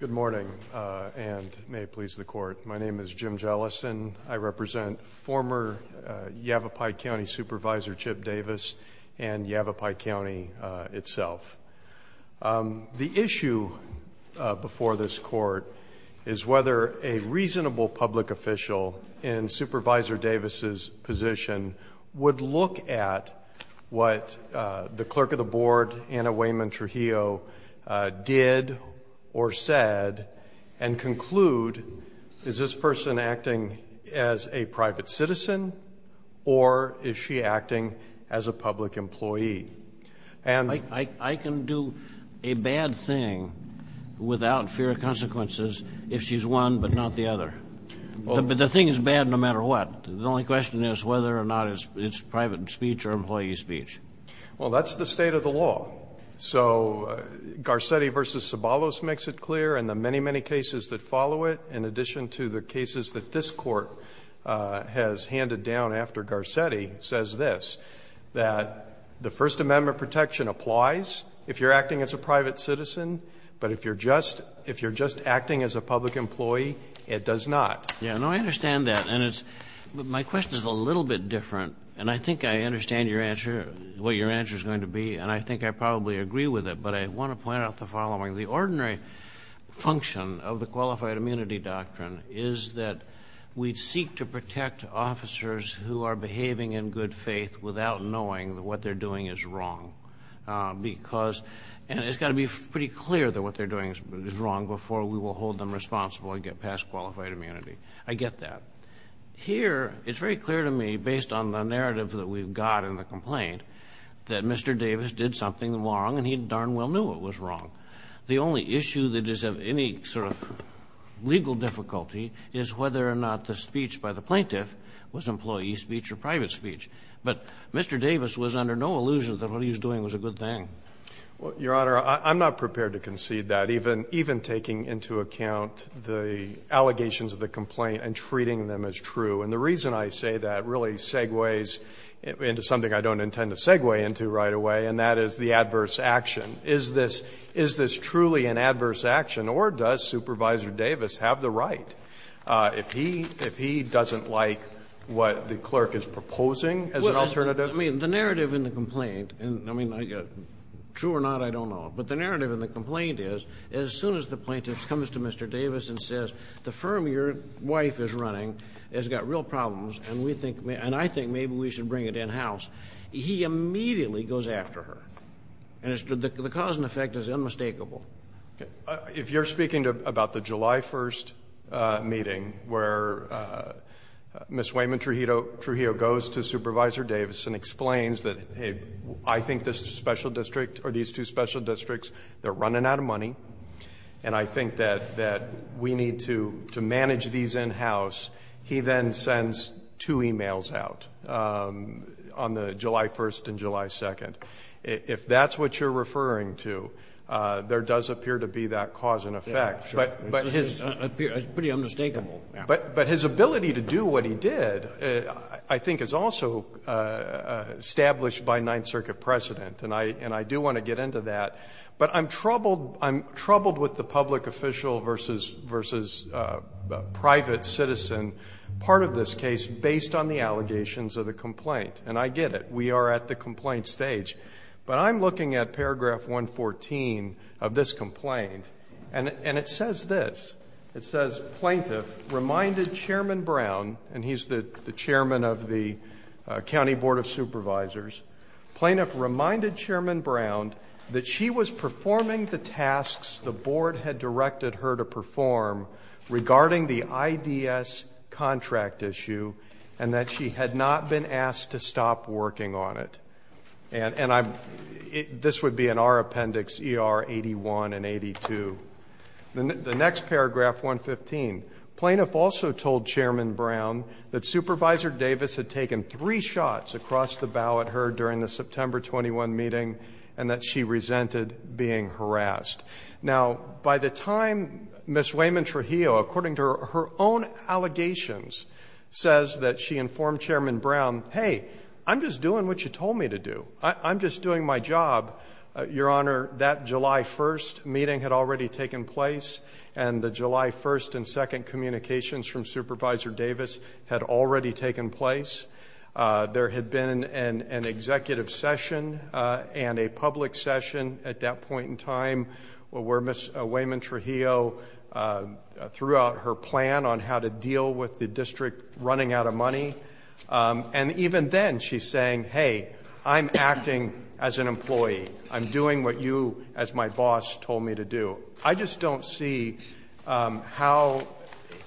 Good morning, and may it please the Court. My name is Jim Jellison. I represent former Yavapai County Supervisor Chip Davis and Yavapai County itself. The issue before this Court is whether a reasonable public official in Supervisor Davis's position would look at what the clerk of the board, Anna Wayman-Trujillo, did or said and conclude, is this person acting as a private citizen or is she acting as a public employee? And I can do a bad thing without fear of consequences if she's one but not the other. But the thing is bad no matter what. The only question is whether or not it's private speech or employee speech. Well, that's the state of the law. So Garcetti v. Sabalos makes it clear, and the many, many cases that follow it, in addition to the cases that this Court has handed down after Garcetti, says this, that the first amendment protection applies if you're acting as a private citizen. But if you're just acting as a public employee, it does not. Yeah. No, I understand that. And it's my question is a little bit different. And I think I understand your answer, what your answer is going to be. And I think I probably agree with it. But I want to point out the following. The ordinary function of the qualified immunity doctrine is that we seek to protect officers who are behaving in good faith without knowing that what they're doing is wrong, because — and it's got to be pretty clear that what they're doing is wrong before we will hold them responsible and get past qualified immunity. I get that. Here, it's very clear to me, based on the narrative that we've got in the complaint, that Mr. Davis did something wrong, and he darn well knew it was wrong. The only issue that is of any sort of legal difficulty is whether or not the speech by the plaintiff was employee speech or private speech. But Mr. Davis was under no illusion that what he was doing was a good thing. Well, Your Honor, I'm not prepared to concede that, even taking into account the allegations of the complaint and treating them as true. And the reason I say that really segues into something I don't intend to segue into right away, and that is the adverse action. Is this truly an adverse action, or does Supervisor Davis have the right, if he did it, and he doesn't like what the clerk is proposing as an alternative? Well, I mean, the narrative in the complaint, and I mean, true or not, I don't know. But the narrative in the complaint is, as soon as the plaintiff comes to Mr. Davis and says, the firm your wife is running has got real problems, and we think — and I think maybe we should bring it in-house, he immediately goes after her. And the cause and effect is unmistakable. If you're speaking about the July 1st meeting, where Ms. Weyman Trujillo goes to Supervisor Davis and explains that, hey, I think this special district, or these two special districts, they're running out of money, and I think that we need to manage these in-house, he then sends two e-mails out on the July 1st and July 2nd. If that's what you're referring to, there does appear to be that cause and effect. But his — It's pretty unmistakable. But his ability to do what he did, I think, is also established by Ninth Circuit precedent, and I do want to get into that. But I'm troubled with the public official versus private citizen part of this case based on the allegations of the complaint. And I get it. We are at the complaint stage. But I'm looking at paragraph 114 of this complaint, and it says this. It says, Plaintiff reminded Chairman Brown, and he's the chairman of the County Board of Supervisors, Plaintiff reminded Chairman Brown that she was performing the tasks the board had directed her to perform regarding the IDS contract issue and that she had not been asked to stop working on it. And I'm — this would be in our appendix, ER 81 and 82. The next paragraph, 115, Plaintiff also told Chairman Brown that Supervisor Davis had taken three shots across the bow at her during the September 21 meeting and that she resented being harassed. Now, by the time Ms. Wayman-Trujillo, according to her own allegations, says that she informed Chairman Brown, hey, I'm just doing what you told me to do. I'm just doing my job. Your Honor, that July 1st meeting had already taken place, and the July 1st and 2nd communications from Supervisor Davis had already taken place. There had been an executive session and a public session at that point in time where Ms. Wayman-Trujillo threw out her plan on how to deal with the district running out of money. And even then, she's saying, hey, I'm acting as an employee. I'm doing what you, as my boss, told me to do. I just don't see how,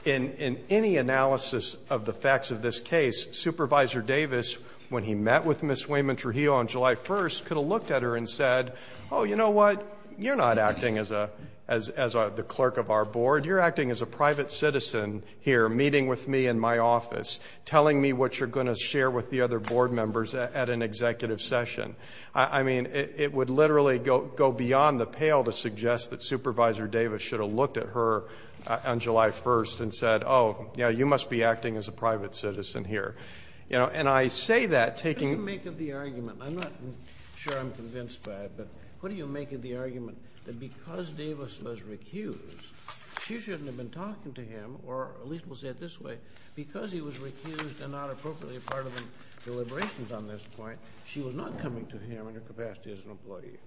in any analysis of the facts of this case, Supervisor Davis, when he met with Ms. Wayman-Trujillo on July 1st, could have looked at her and said, oh, you know what, you're not acting as a — as the clerk of our board. You're acting as a private citizen here, meeting with me in my office, telling me what you're going to share with the other board members at an executive session. I mean, it would literally go beyond the pale to suggest that Supervisor Davis should have looked at her on July 1st and said, oh, yeah, you must be acting as a private citizen here. And I say that taking — What do you make of the argument — I'm not sure I'm convinced by it, but what do you make of the argument that she shouldn't have been talking to him, or at least we'll say it this way, because he was recused and not appropriately a part of the deliberations on this point, she was not coming to him in her capacity as an employee?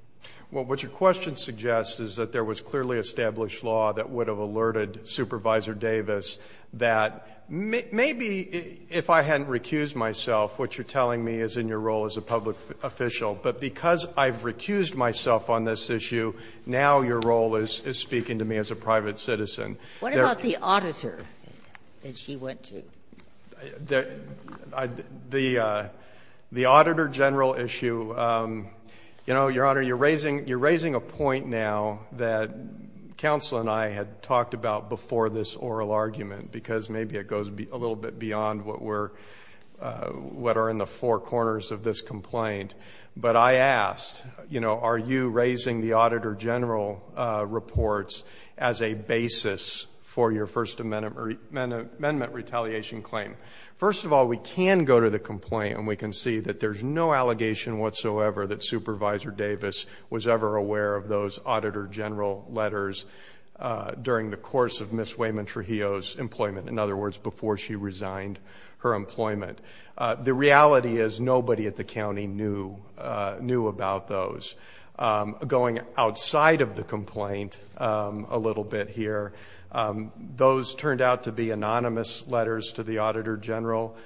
Well, what your question suggests is that there was clearly established law that would have alerted Supervisor Davis that maybe if I hadn't recused myself, what you're telling me is in your role as a public official, but because I've recused myself on this issue, now your role is speaking to me as a private citizen. What about the auditor that she went to? The auditor general issue, you know, Your Honor, you're raising a point now that counsel and I had talked about before this oral argument, because maybe it goes a little bit beyond what we're — what are in the four corners of this complaint. But I asked, you know, are you raising the auditor general reports as a basis for your First Amendment retaliation claim? First of all, we can go to the complaint and we can see that there's no allegation whatsoever that Supervisor Davis was ever aware of those auditor general letters during the course of Ms. Wayman-Trujillo's employment, in other words, before she resigned her employment. The reality is nobody at the county knew about those. Going outside of the complaint a little bit here, those turned out to be anonymous letters to the auditor general.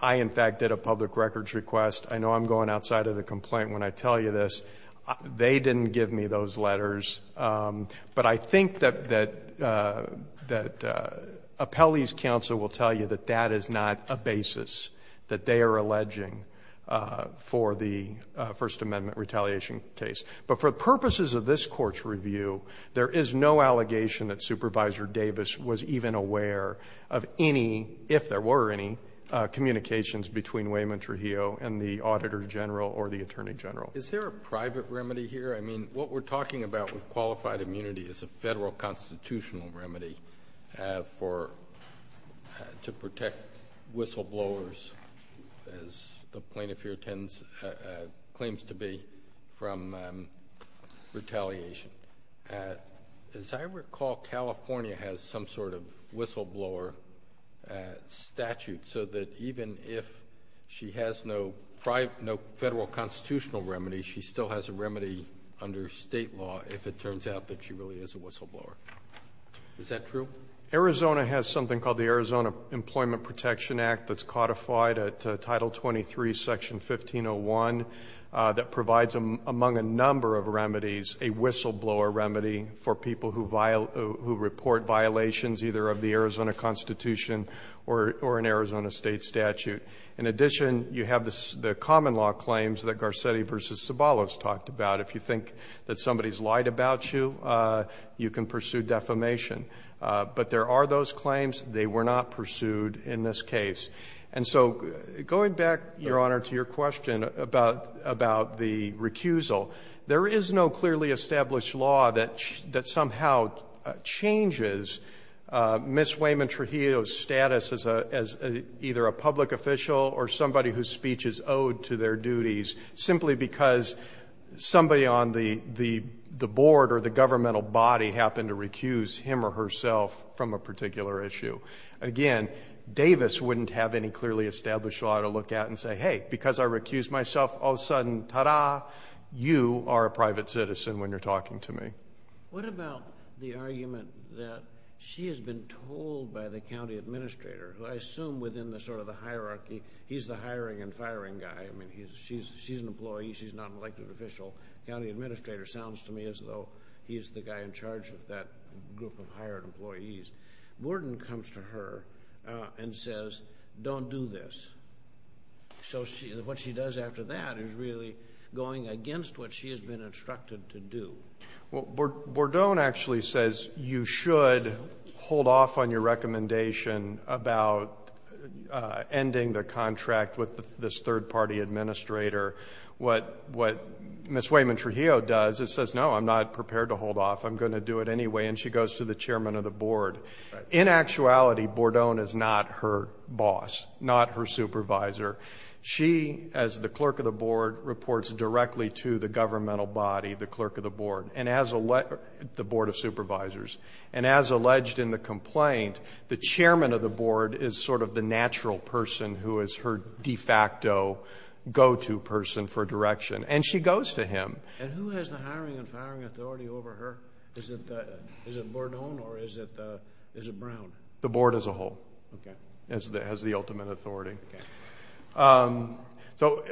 I in fact did a public records request. I know I'm going outside of the complaint when I tell you this. They didn't give me those letters. But I think that Appellee's counsel will tell you that that is not a basis that they are alleging for the First Amendment retaliation case. But for purposes of this Court's review, there is no allegation that Supervisor Davis was even aware of any, if there were any, communications between Wayman-Trujillo and the auditor general or the attorney general. Is there a private remedy here? I mean, what we're talking about with qualified immunity is a federal constitutional remedy to protect whistleblowers, as the plaintiff here claims to be, from retaliation. As I recall, California has some sort of whistleblower statute so that even if she has no federal constitutional remedy, she still has a remedy under State law if it turns out that she really is a whistleblower. Is that true? Arizona has something called the Arizona Employment Protection Act that's codified at Title 23, Section 1501, that provides, among a number of remedies, a whistleblower remedy for people who violate or who report violations either of the Arizona Constitution or an Arizona State statute. In addition, you have the common law claims that Garcetti v. Zabalos talked about. If you think that somebody's lied about you, you can pursue defamation. But there are those claims. They were not pursued in this case. And so going back, Your Honor, to your question about the recusal, there is no clearly established law that somehow changes Ms. Wayman-Trujillo's status as either a public official or somebody whose speech is owed to their duties simply because somebody on the board or the governmental body happened to recuse him or herself from a particular issue. Again, Davis wouldn't have any clearly established law to look at and say, hey, because I recused myself, all of a sudden, ta-da, you are a private citizen when you're talking to me. What about the argument that she has been told by the county administrator, who I assume within the sort of the hierarchy, he's the hiring and firing guy, I mean, she's an employee, she's not an elected official. The county administrator sounds to me as though he's the guy in charge of that group of hired employees. Bordone comes to her and says, don't do this. So what she does after that is really going against what she has been instructed to do. Well, Bordone actually says you should hold off on your recommendation about ending the contract with this third-party administrator. What Ms. Wayman-Trujillo does is says, no, I'm not prepared to hold off, I'm going to do it anyway, and she goes to the chairman of the board. In actuality, Bordone is not her boss, not her supervisor. She, as the clerk of the board, reports directly to the governmental body, the clerk of the board, the board of supervisors. And as alleged in the complaint, the chairman of the board is sort of the natural person who is her de facto go-to person for direction. And she goes to him. And who has the hiring and firing authority over her? Is it Bordone or is it Brown? The board as a whole has the ultimate authority. So,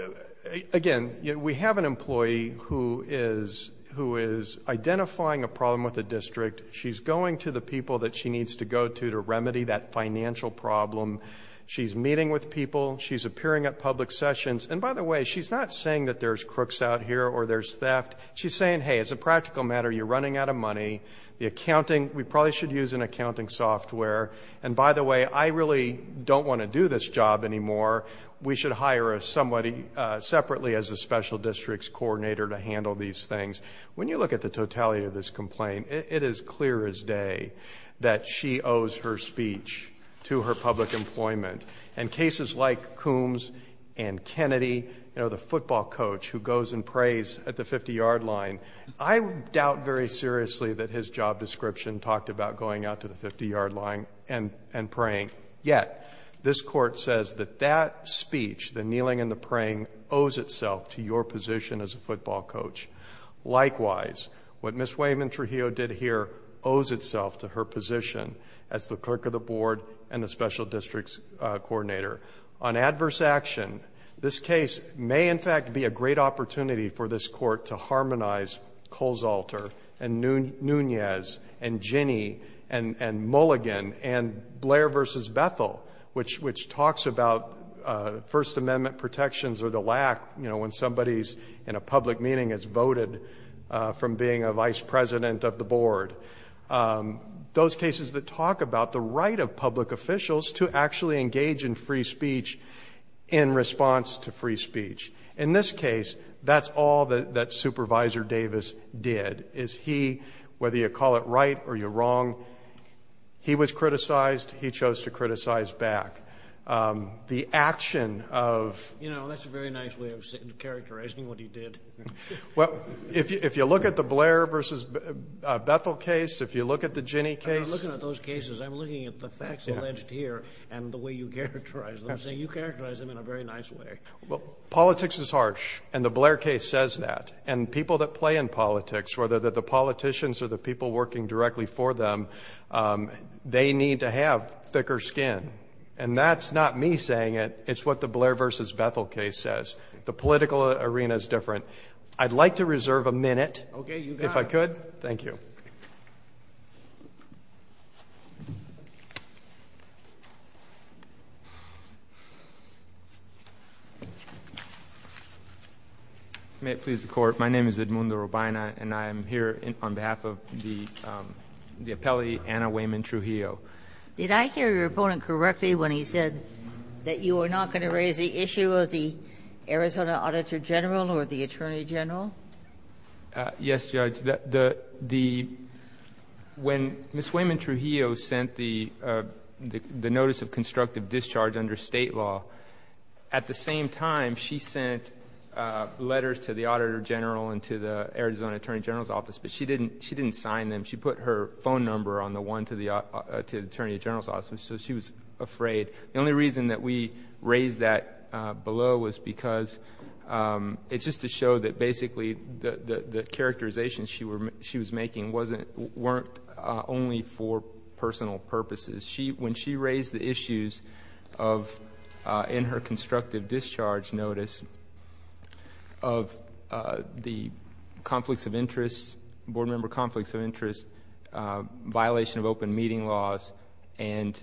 again, we have an employee who is identifying a problem with the district. She's going to the people that she needs to go to to remedy that financial problem. She's meeting with people. She's appearing at public sessions. And by the way, she's not saying that there's crooks out here or there's theft. She's saying, hey, as a practical matter, you're running out of money. The accounting, we probably should use an accounting software. And by the way, I really don't want to do this job anymore. We should hire somebody separately as a special district's coordinator to handle these things. When you look at the totality of this complaint, it is clear as day that she owes her speech to her public employment. And cases like Coombs and Kennedy, you know, the football coach who goes and prays at the 50-yard line, I doubt very seriously that his job description talked about going out to the 50-yard line and praying. Yet, this court says that that speech, the kneeling and the praying, owes itself to your position as a football coach. Likewise, what Ms. Wayman Trujillo did here owes itself to her position as the clerk of the board and the special district's coordinator. On adverse action, this case may, in fact, be a great opportunity for this court to harmonize Coles-Alter and Nunez and Ginni and Mulligan and Blair v. Bethel, which talks about First Amendment protections or the lack, you know, when somebody's in a public meeting is voted from being a vice president of the board, those cases that talk about the right of public officials to actually engage in free speech in response to free speech. In this case, that's all that Supervisor Davis did. Is he, whether you call it right or you're wrong, he was criticized. He chose to criticize back. The action of... You know, that's a very nice way of characterizing what he did. Well, if you look at the Blair v. Bethel case, if you look at the Ginni case... I'm not looking at those cases. I'm looking at the facts alleged here and the way you characterize them, saying you characterize them in a very nice way. Well, politics is harsh, and the Blair case says that. And people that play in politics, whether they're the politicians or the people working directly for them, they need to have thicker skin. And that's not me saying it. It's what the Blair v. Bethel case says. The political arena is different. I'd like to reserve a minute. Okay, you got it. If I could. Thank you. May it please the Court, my name is Edmundo Robina, and I am here on behalf of the appellee Anna Wayman-Trujillo. Did I hear your opponent correctly when he said that you are not going to raise the issue of the Arizona Auditor General or the Attorney General? Yes, Judge. The... When Ms. Wayman-Trujillo sent the notice of constructive discharge under State law, at the same time, she sent letters to the Auditor General and to the Arizona Attorney General's office, but she didn't sign them. She put her phone number on the one to the Attorney General's office, so she was afraid. The only reason that we raised that below was because it's just to show that basically the characterizations she was making weren't only for personal purposes. When she raised the issues of, in her constructive discharge notice, of the conflicts of interest, board member conflicts of interest, violation of open meeting laws, and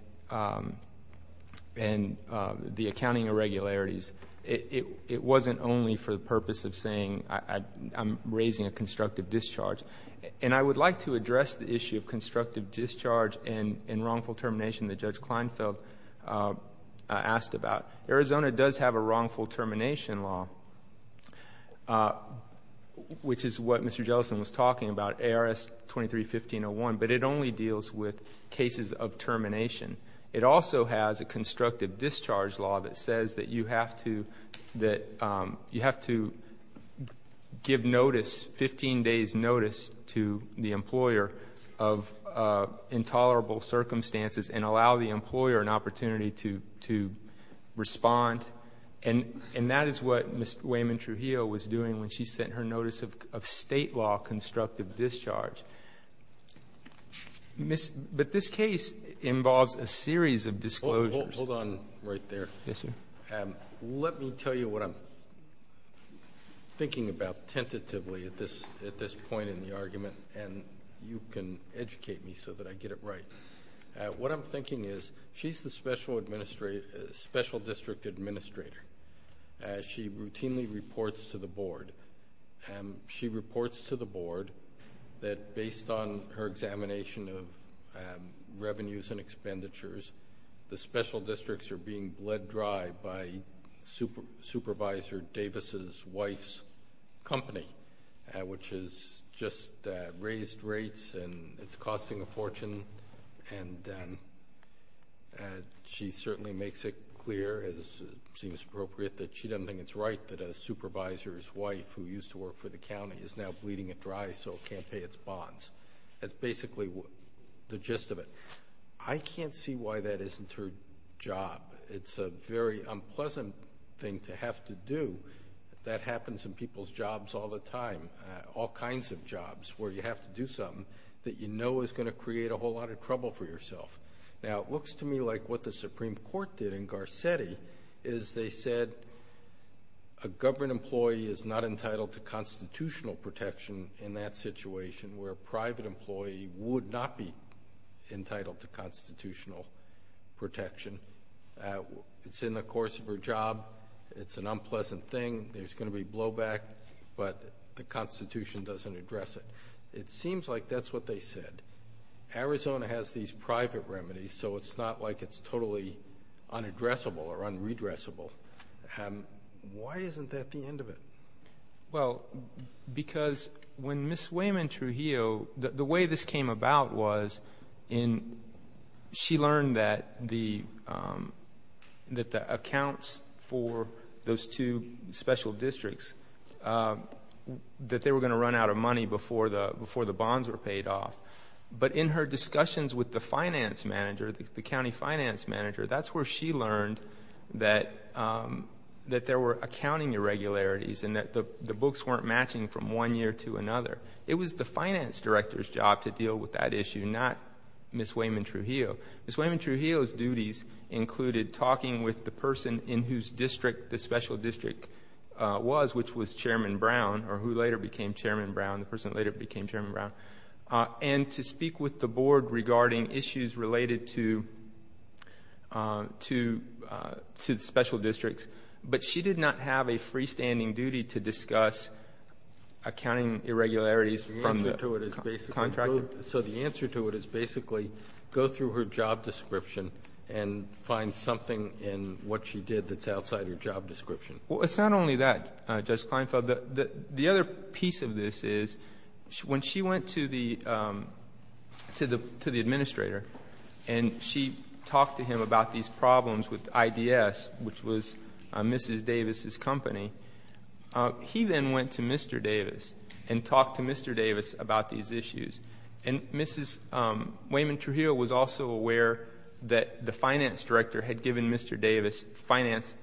the accounting irregularities, it wasn't only for the purpose of saying, I'm raising a constructive discharge. I would like to address the issue of constructive discharge and wrongful termination that Judge Kleinfeld asked about. Arizona does have a wrongful termination law, which is what Mr. Jellison was talking about, ARS 23-1501, but it only deals with cases of termination. It also has a constructive discharge law that says that you have to give notice, 15 days notice, to the employer of intolerable circumstances and allow the employer an opportunity to respond. That is what Ms. Wayman Trujillo was doing when she sent her notice of state law constructive discharge. This case involves a series of disclosures. Hold on right there. Yes, sir. Let me tell you what I'm thinking about tentatively at this point in the argument, and you can educate me so that I get it right. What I'm thinking is, she's the special district administrator. She routinely reports to the board. She reports to the board that based on her examination of revenues and expenditures, the special districts are being bled dry by Supervisor Davis' wife's company, which has just raised rates and it's costing a fortune. She certainly makes it clear, as it seems appropriate, that she doesn't think it's right that a supervisor's wife, who used to work for the county, is now bleeding it dry so it can't pay its bonds. That's basically the gist of it. I can't see why that isn't her job. It's a very unpleasant thing to have to do. That happens in people's jobs all the time, all kinds of jobs, where you have to do something that you know is going to create a whole lot of trouble for yourself. Now, it looks to me like what the Supreme Court did in Garcetti is they said a government employee is not entitled to constitutional protection in that situation, where a private employee would not be entitled to constitutional protection. It's in the course of her job. It's an unpleasant thing. There's going to be blowback, but the Constitution doesn't address it. It seems like that's what they said. Arizona has these private remedies, so it's not like it's totally unaddressable or unredressable. Why isn't that the end of it? Well, because when Ms. Wayman Trujillo, the way this came about was she learned that the accounts for those two special districts, that they were going to run out of money before the bonds were paid off. But in her discussions with the finance manager, the county finance manager, that's where she learned that there were accounting irregularities and that the books weren't matching from one year to another. It was the finance director's job to deal with that issue, not Ms. Wayman Trujillo. Ms. Wayman Trujillo's duties included talking with the person in whose district the special district was, which was Chairman Brown, or who later became Chairman Brown, the person later became Chairman Brown, and to speak with the board regarding issues related to the special districts. But she did not have a freestanding duty to discuss accounting irregularities from the contractor. So the answer to it is basically go through her job description and find something in what she did that's outside her job description. Well, it's not only that, Judge Kleinfeld. The other piece of this is when she went to the administrator and she talked to him about these problems with IDS, which was Mrs. Davis's company, he then went to Mr. Davis and talked to Mr. Davis about these issues. And Mrs. Wayman Trujillo was also aware that the finance director had given Mr. Davis finance doubts.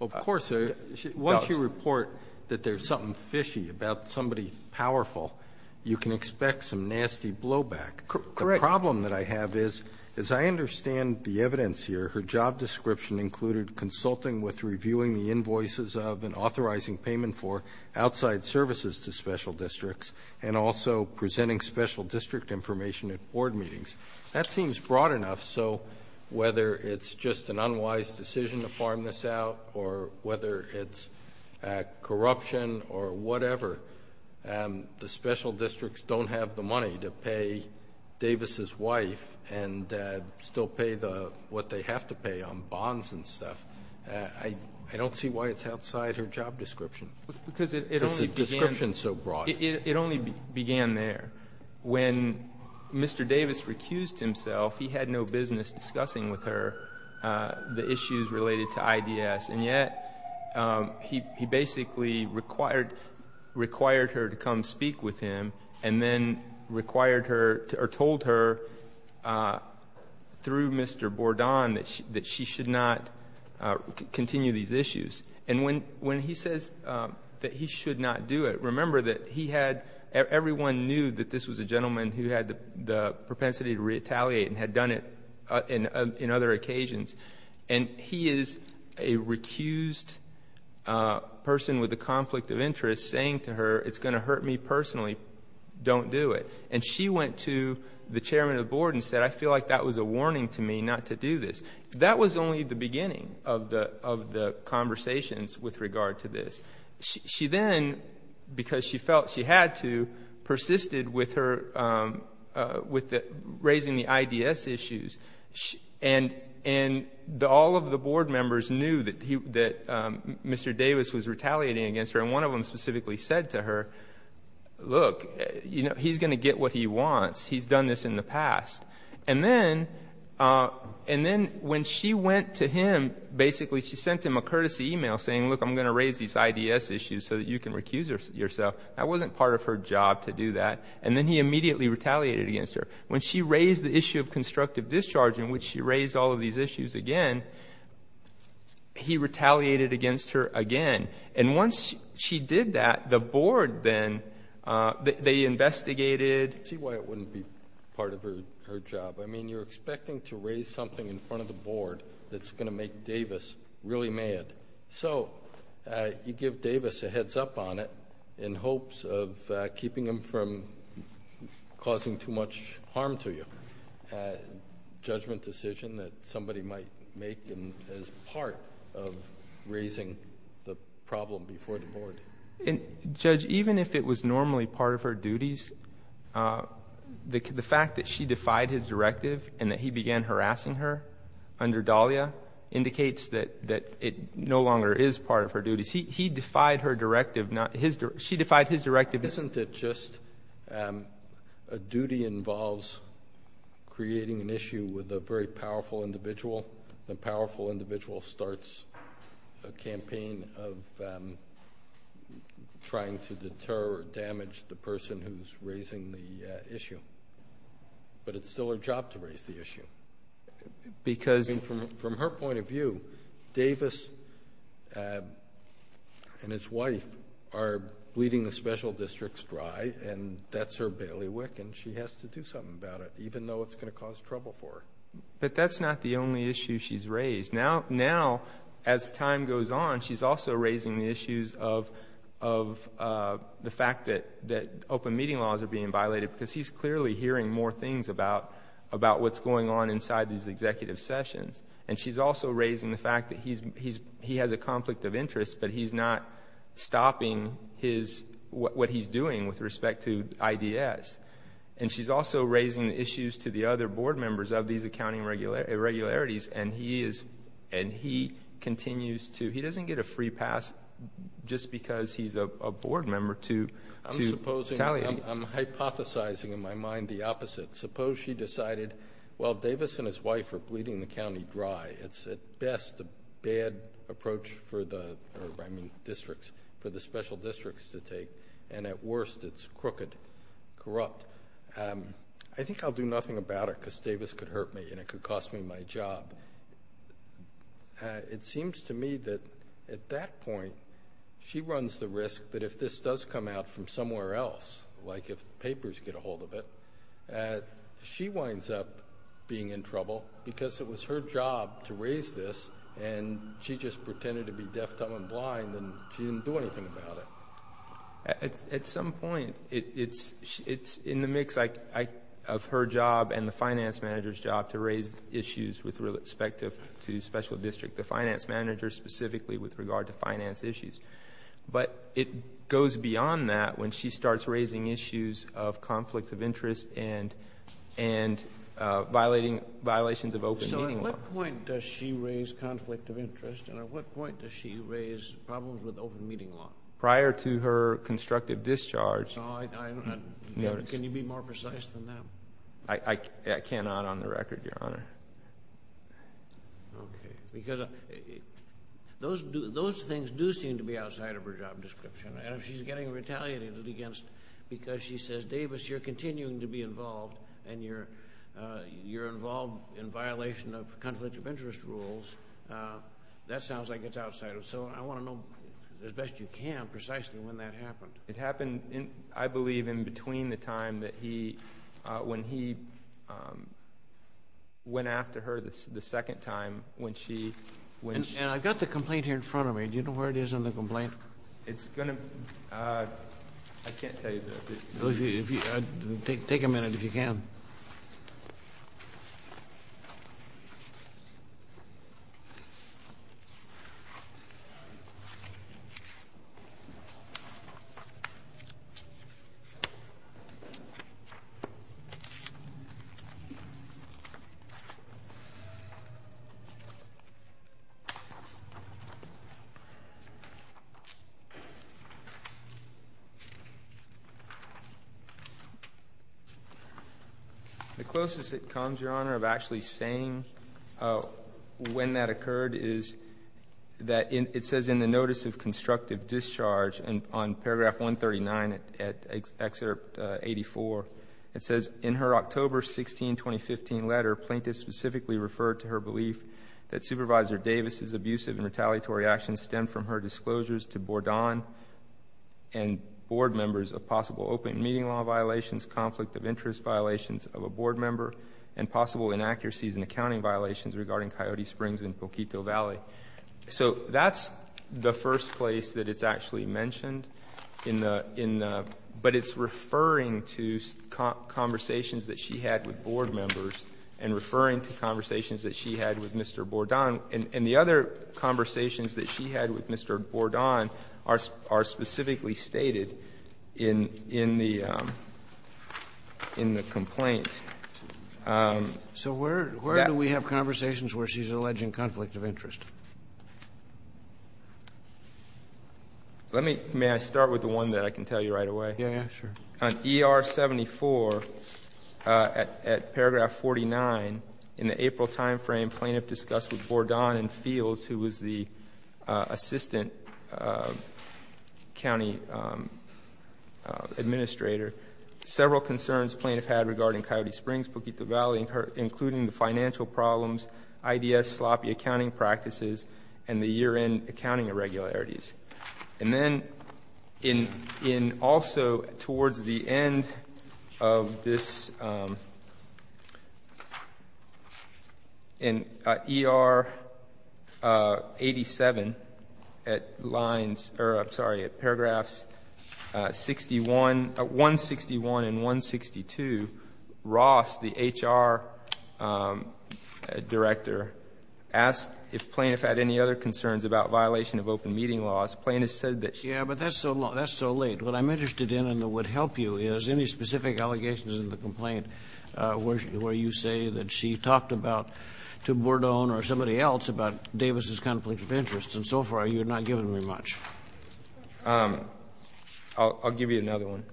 Of course. Once you report that there's something fishy about somebody powerful, you can expect some nasty blowback. Correct. The problem that I have is, as I understand the evidence here, her job description included consulting with reviewing the invoices of and authorizing payment for outside services to special districts, and also presenting special district information at board meetings. That seems broad enough. So whether it's just an unwise decision to farm this out, or whether it's corruption or whatever, the special districts don't have the money to pay Davis's wife and still pay what they have to pay on bonds and stuff. I don't see why it's outside her job description. Because the description is so broad. It only began there. When Mr. Davis recused himself, he had no business discussing with her the issues related to IDS. And yet, he basically required her to come speak with him, and then required her, or told her, through Mr. Bourdon, that she should not continue these issues. And when he says that he should not do it, remember that he had, everyone knew that this was a gentleman who had the propensity to retaliate and had done it in other occasions. And he is a recused person with a conflict of interest saying to her, it's going to hurt me personally, don't do it. And she went to the chairman of the board and said, I feel like that was a warning to me not to do this. That was only the beginning of the conversations with regard to this. She then, because she felt she had to, persisted with raising the IDS issues. And all of the board members knew that Mr. Davis was retaliating against her, and one of them specifically said to her, look, he's going to get what he wants. He's done this in the past. And then when she went to him, basically she sent him a courtesy email saying, look, I'm going to raise these IDS issues so that you can recuse yourself. That wasn't part of her job to do that. And then he immediately retaliated against her. When she raised the issue of constructive discharge in which she raised all of these issues again, he retaliated against her again. And once she did that, the board then, they investigated. I see why it wouldn't be part of her job. I mean, you're expecting to raise something in front of the board that's going to make Davis really mad. So you give Davis a heads up on it in hopes of keeping him from causing too much harm to you, a judgment decision that somebody might make as part of raising the problem before the board. And, Judge, even if it was normally part of her duties, the fact that she defied his directive and that he began harassing her under Dahlia indicates that it no longer is part of her duties. He defied her directive, not his. She defied his directive. Isn't it just a duty involves creating an issue with a very powerful individual? The powerful individual starts a campaign of trying to deter or damage the person who's raising the issue. But it's still her job to raise the issue. Because from her point of view, Davis and his wife are bleeding the special districts dry and that's her bailiwick and she has to do something about it, even though it's going to cause trouble for her. But that's not the only issue she's raised. Now, as time goes on, she's also raising the issues of the fact that open meeting laws are being violated because he's clearly hearing more things about what's going on inside these executive sessions. And she's also raising the fact that he has a conflict of interest, but he's not stopping what he's doing with respect to IDS. And she's also raising the issues to the other board members of these accounting irregularities and he continues to... he doesn't get a free pass just because he's a board member to Dahlia. I'm supposing... I'm hypothesizing in my mind the opposite. Suppose she decided, while Davis and his wife are bleeding the county dry, it's at best a bad approach for the... I mean districts... for the special districts to take and at worst it's crooked, corrupt. I think I'll do nothing about it because Davis could hurt me and it could cost me my job. It seems to me that at that point, she runs the risk that if this does come out from somewhere else, like if the papers get a hold of it, she winds up being in trouble because it was her job to raise this and she just pretended to be deaf, dumb, and blind and she didn't do anything about it. At some point, it's in the mix of her job and the finance manager's job to raise issues with respect to special district. The finance manager specifically with regard to finance issues. But it goes beyond that when she starts raising issues of conflict of interest and violating violations of open meeting law. So at what point does she raise conflict of interest and at what point does she raise problems with open meeting law? Prior to her constructive discharge... No, I don't...... notice. Can you be more precise than that? I cannot on the record, Your Honor. Because those things do seem to be outside of her job description and if she's getting retaliated against because she says, Davis, you're continuing to be involved and you're involved in violation of conflict of interest rules, that sounds like it's outside. So I want to know as best you can precisely when that happened. It happened, I believe, in between the time that he... when he went after her the second time when she... And I've got the complaint here in front of me. Do you know where it is in the complaint? It's going to... I can't tell you. Take a minute if you can. The closest it comes, Your Honor, of actually saying when that occurred is that it says in the notice of constructive discharge on paragraph 139 at excerpt 84, it says in her October 16, 2015 letter, plaintiffs specifically referred to her belief that Supervisor Davis's abusive and retaliatory actions stem from her disclosures to Bourdon and board members of possible open meeting law violations, conflict of interest violations of a board member, and possible inaccuracies and accounting violations regarding Coyote Springs and Poquito Valley. So that's the first place that it's actually mentioned in the... but it's referring to conversations that she had with board members and referring to conversations that she had with Mr. Bourdon. And the other conversations that she had with Mr. Bourdon are specifically stated in the complaint. So where do we have conversations where she's alleging conflict of interest? Let me start with the one that I can tell you right away. Yes, sure. On ER-74 at paragraph 49, in the April time frame, plaintiff discussed with Bourdon and Fields, who was the assistant county administrator, several concerns the plaintiff had regarding Coyote Springs, Poquito Valley, including the financial problems, IDS sloppy accounting practices, and the year-end accounting irregularities. And then in also towards the end of this, in ER-87 at lines, or I'm sorry, at paragraphs 161 and 162, Ross, the HR director, asked if plaintiff had any other concerns about violation of open meeting laws. Plaintiff said that she had. Kennedy, but that's so late. What I'm interested in and what would help you is any specific allegations in the complaint where you say that she talked about, to Bourdon or somebody else, about Davis's conflict of interest. And so far, you have not given me much. I'll, I'll give you another one.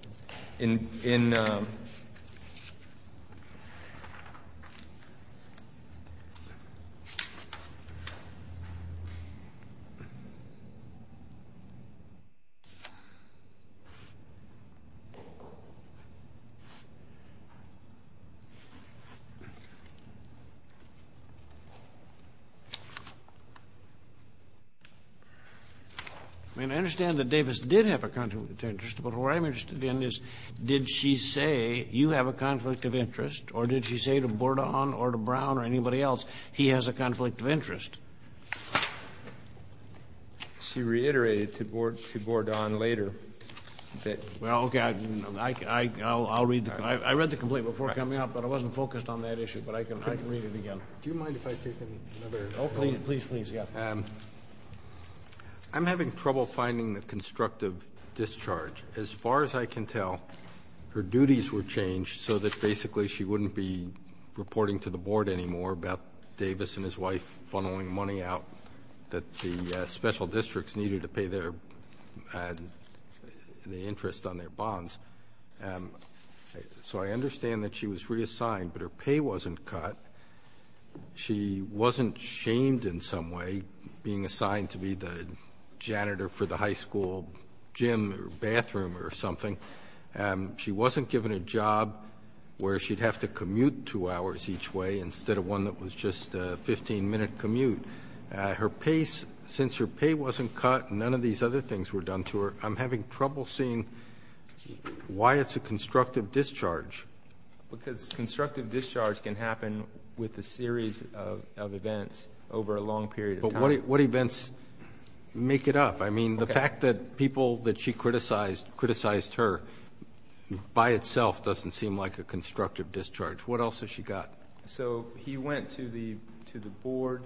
In, in I mean, I understand that Davis did have a conflict of interest, but what I'm interested in is, did she say, you have a conflict of interest, or did she say to Bourdon or to Brown or anybody else, he has a conflict of interest? She reiterated to Bourdon later that Well, okay. I, I, I'll, I'll read the, I read the complaint before coming up, but I wasn't focused on that issue, but I can, I can read it again. Do you mind if I take another? Oh, please, please, yeah. I'm having trouble finding the constructive discharge. As far as I can tell, her duties were changed so that basically she wouldn't be reporting to the board anymore about Davis and his wife funneling money out, that the special districts needed to pay their, the interest on their bonds. So I understand that she was reassigned, but her pay wasn't cut. She wasn't shamed in some way, being assigned to be the janitor for the high school gym or bathroom or something. She wasn't given a job where she'd have to commute two hours each way instead of one that was just a 15 minute commute. Her pace, since her pay wasn't cut, none of these other things were done to her. I'm having trouble seeing why it's a constructive discharge. Because constructive discharge can happen with a series of events over a long period of time. But what events make it up? I mean, the fact that people that she criticized, criticized her, by itself doesn't seem like a constructive discharge. What else has she got? So he went to the board,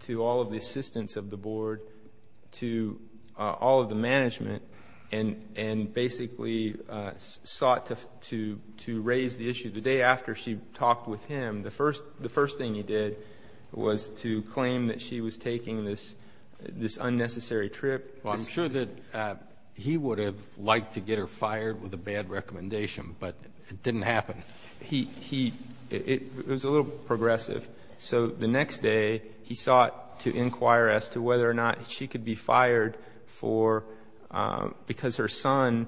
to all of the assistants of the board, to all of the assistants of the board, to raise the issue. The day after she talked with him, the first thing he did was to claim that she was taking this unnecessary trip. Well, I'm sure that he would have liked to get her fired with a bad recommendation, but it didn't happen. He, he, it was a little progressive. So the next day, he sought to inquire as to whether or not she could be fired for, because her son,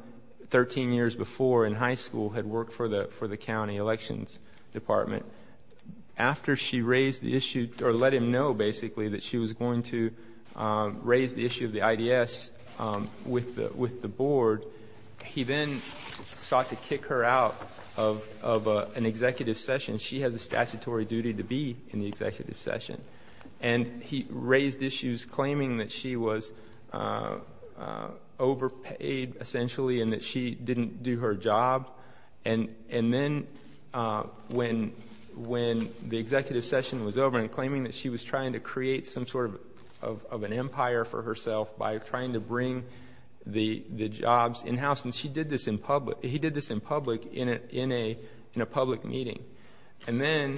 13 years before, in high school, had worked for the, for the county elections department. After she raised the issue, or let him know, basically, that she was going to raise the issue of the IDS with the, with the board, he then sought to kick her out of, of an executive session. She has a statutory duty to be in the executive session. And he raised issues claiming that she was overpaid, essentially, and that she didn't do her job. And, and then when, when the executive session was over and claiming that she was trying to create some sort of, of, of an empire for herself by trying to bring the, the jobs in-house. And she did this in public, he did this in public in a, in a, in a public meeting. And then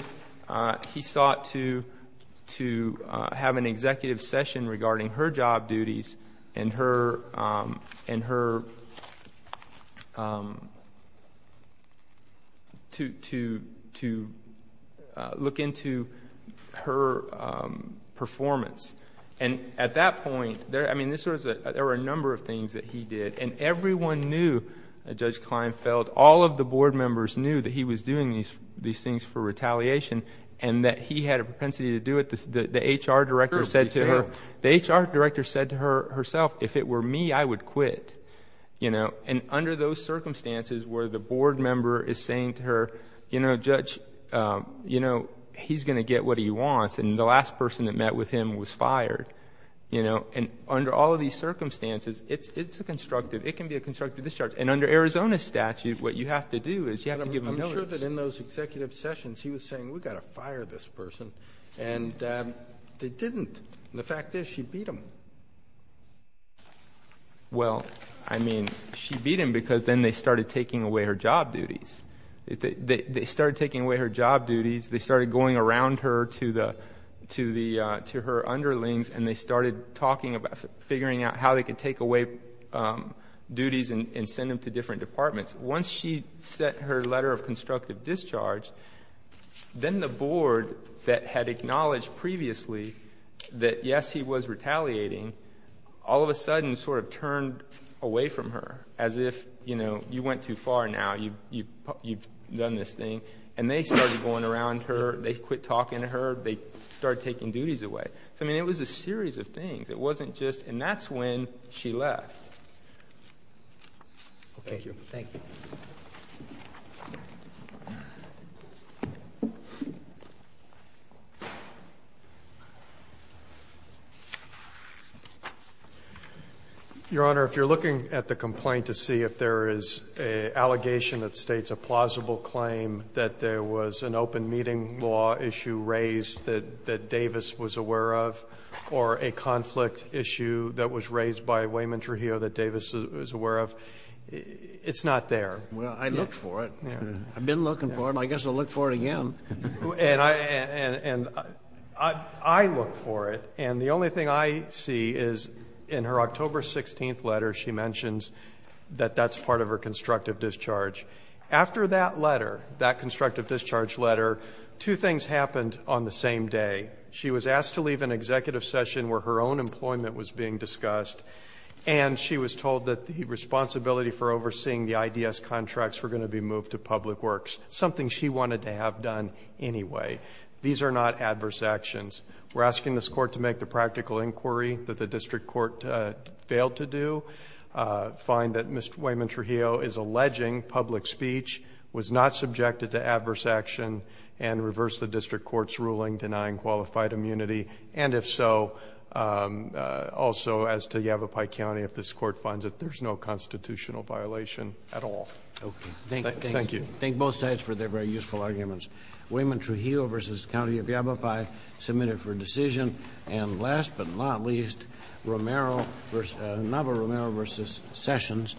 he sought to, to have an executive session regarding her job duties and her, and her, to, to, to look into her performance. And at that point, there, I mean, this was a, there were a number of things that he did. And everyone knew, Judge Kleinfeld, all of the board members knew that he was doing these, these things for retaliation. And that he had a propensity to do it, the, the HR director said to her, the HR director said to her, herself, if it were me, I would quit. You know, and under those circumstances where the board member is saying to her, you know, Judge, you know, he's going to get what he wants. And the last person that met with him was fired. You know, and under all of these circumstances, it's, it's a constructive, it can be a constructive discharge. And under Arizona statute, what you have to do is you have to give him notice. I'm sure that in those executive sessions, he was saying, we've got to fire this person. And they didn't. The fact is, she beat him. Well, I mean, she beat him because then they started taking away her job duties. They, they, they started taking away her job duties. They started going around her to the, to the, to her underlings. And they started talking about, figuring out how they could take away duties and, and send them to different departments. Once she sent her letter of constructive discharge, then the board that had acknowledged previously that, yes, he was retaliating, all of a sudden sort of turned away from her, as if, you know, you went too far now. You, you've, you've done this thing. And they started going around her. They quit talking to her. They started taking duties away. So, I mean, it was a series of things. It wasn't just, and that's when she left. Thank you. Thank you. Your Honor, if you're looking at the complaint to see if there is an allegation that states a plausible claim that there was an open meeting law issue raised that, that Davis was aware of, or a conflict issue that was raised by Wayman Trujillo that Davis was aware of, it's not there. Well, I looked for it. I've been looking for it. I guess I'll look for it again. And I, and, and I, I look for it. And the only thing I see is in her October 16th letter, she mentions that that's part of her constructive discharge. After that letter, that constructive discharge letter, two things happened on the same day. She was asked to leave an executive session where her own employment was being discussed. And she was told that the responsibility for overseeing the IDS contracts were going to be moved to public works, something she wanted to have done anyway. These are not adverse actions. We're asking this court to make the practical inquiry that the district court failed to do. Find that Mr. Wayman Trujillo is alleging public speech, was not subjected to adverse action, and reverse the district court's ruling denying qualified immunity. And if so, also as to Yavapai County, if this court finds it, there's no constitutional violation at all. Thank you. Thank both sides for their very useful arguments. Wayman Trujillo versus County of Yavapai, submitted for decision. And last but not least, Navarro versus Sessions.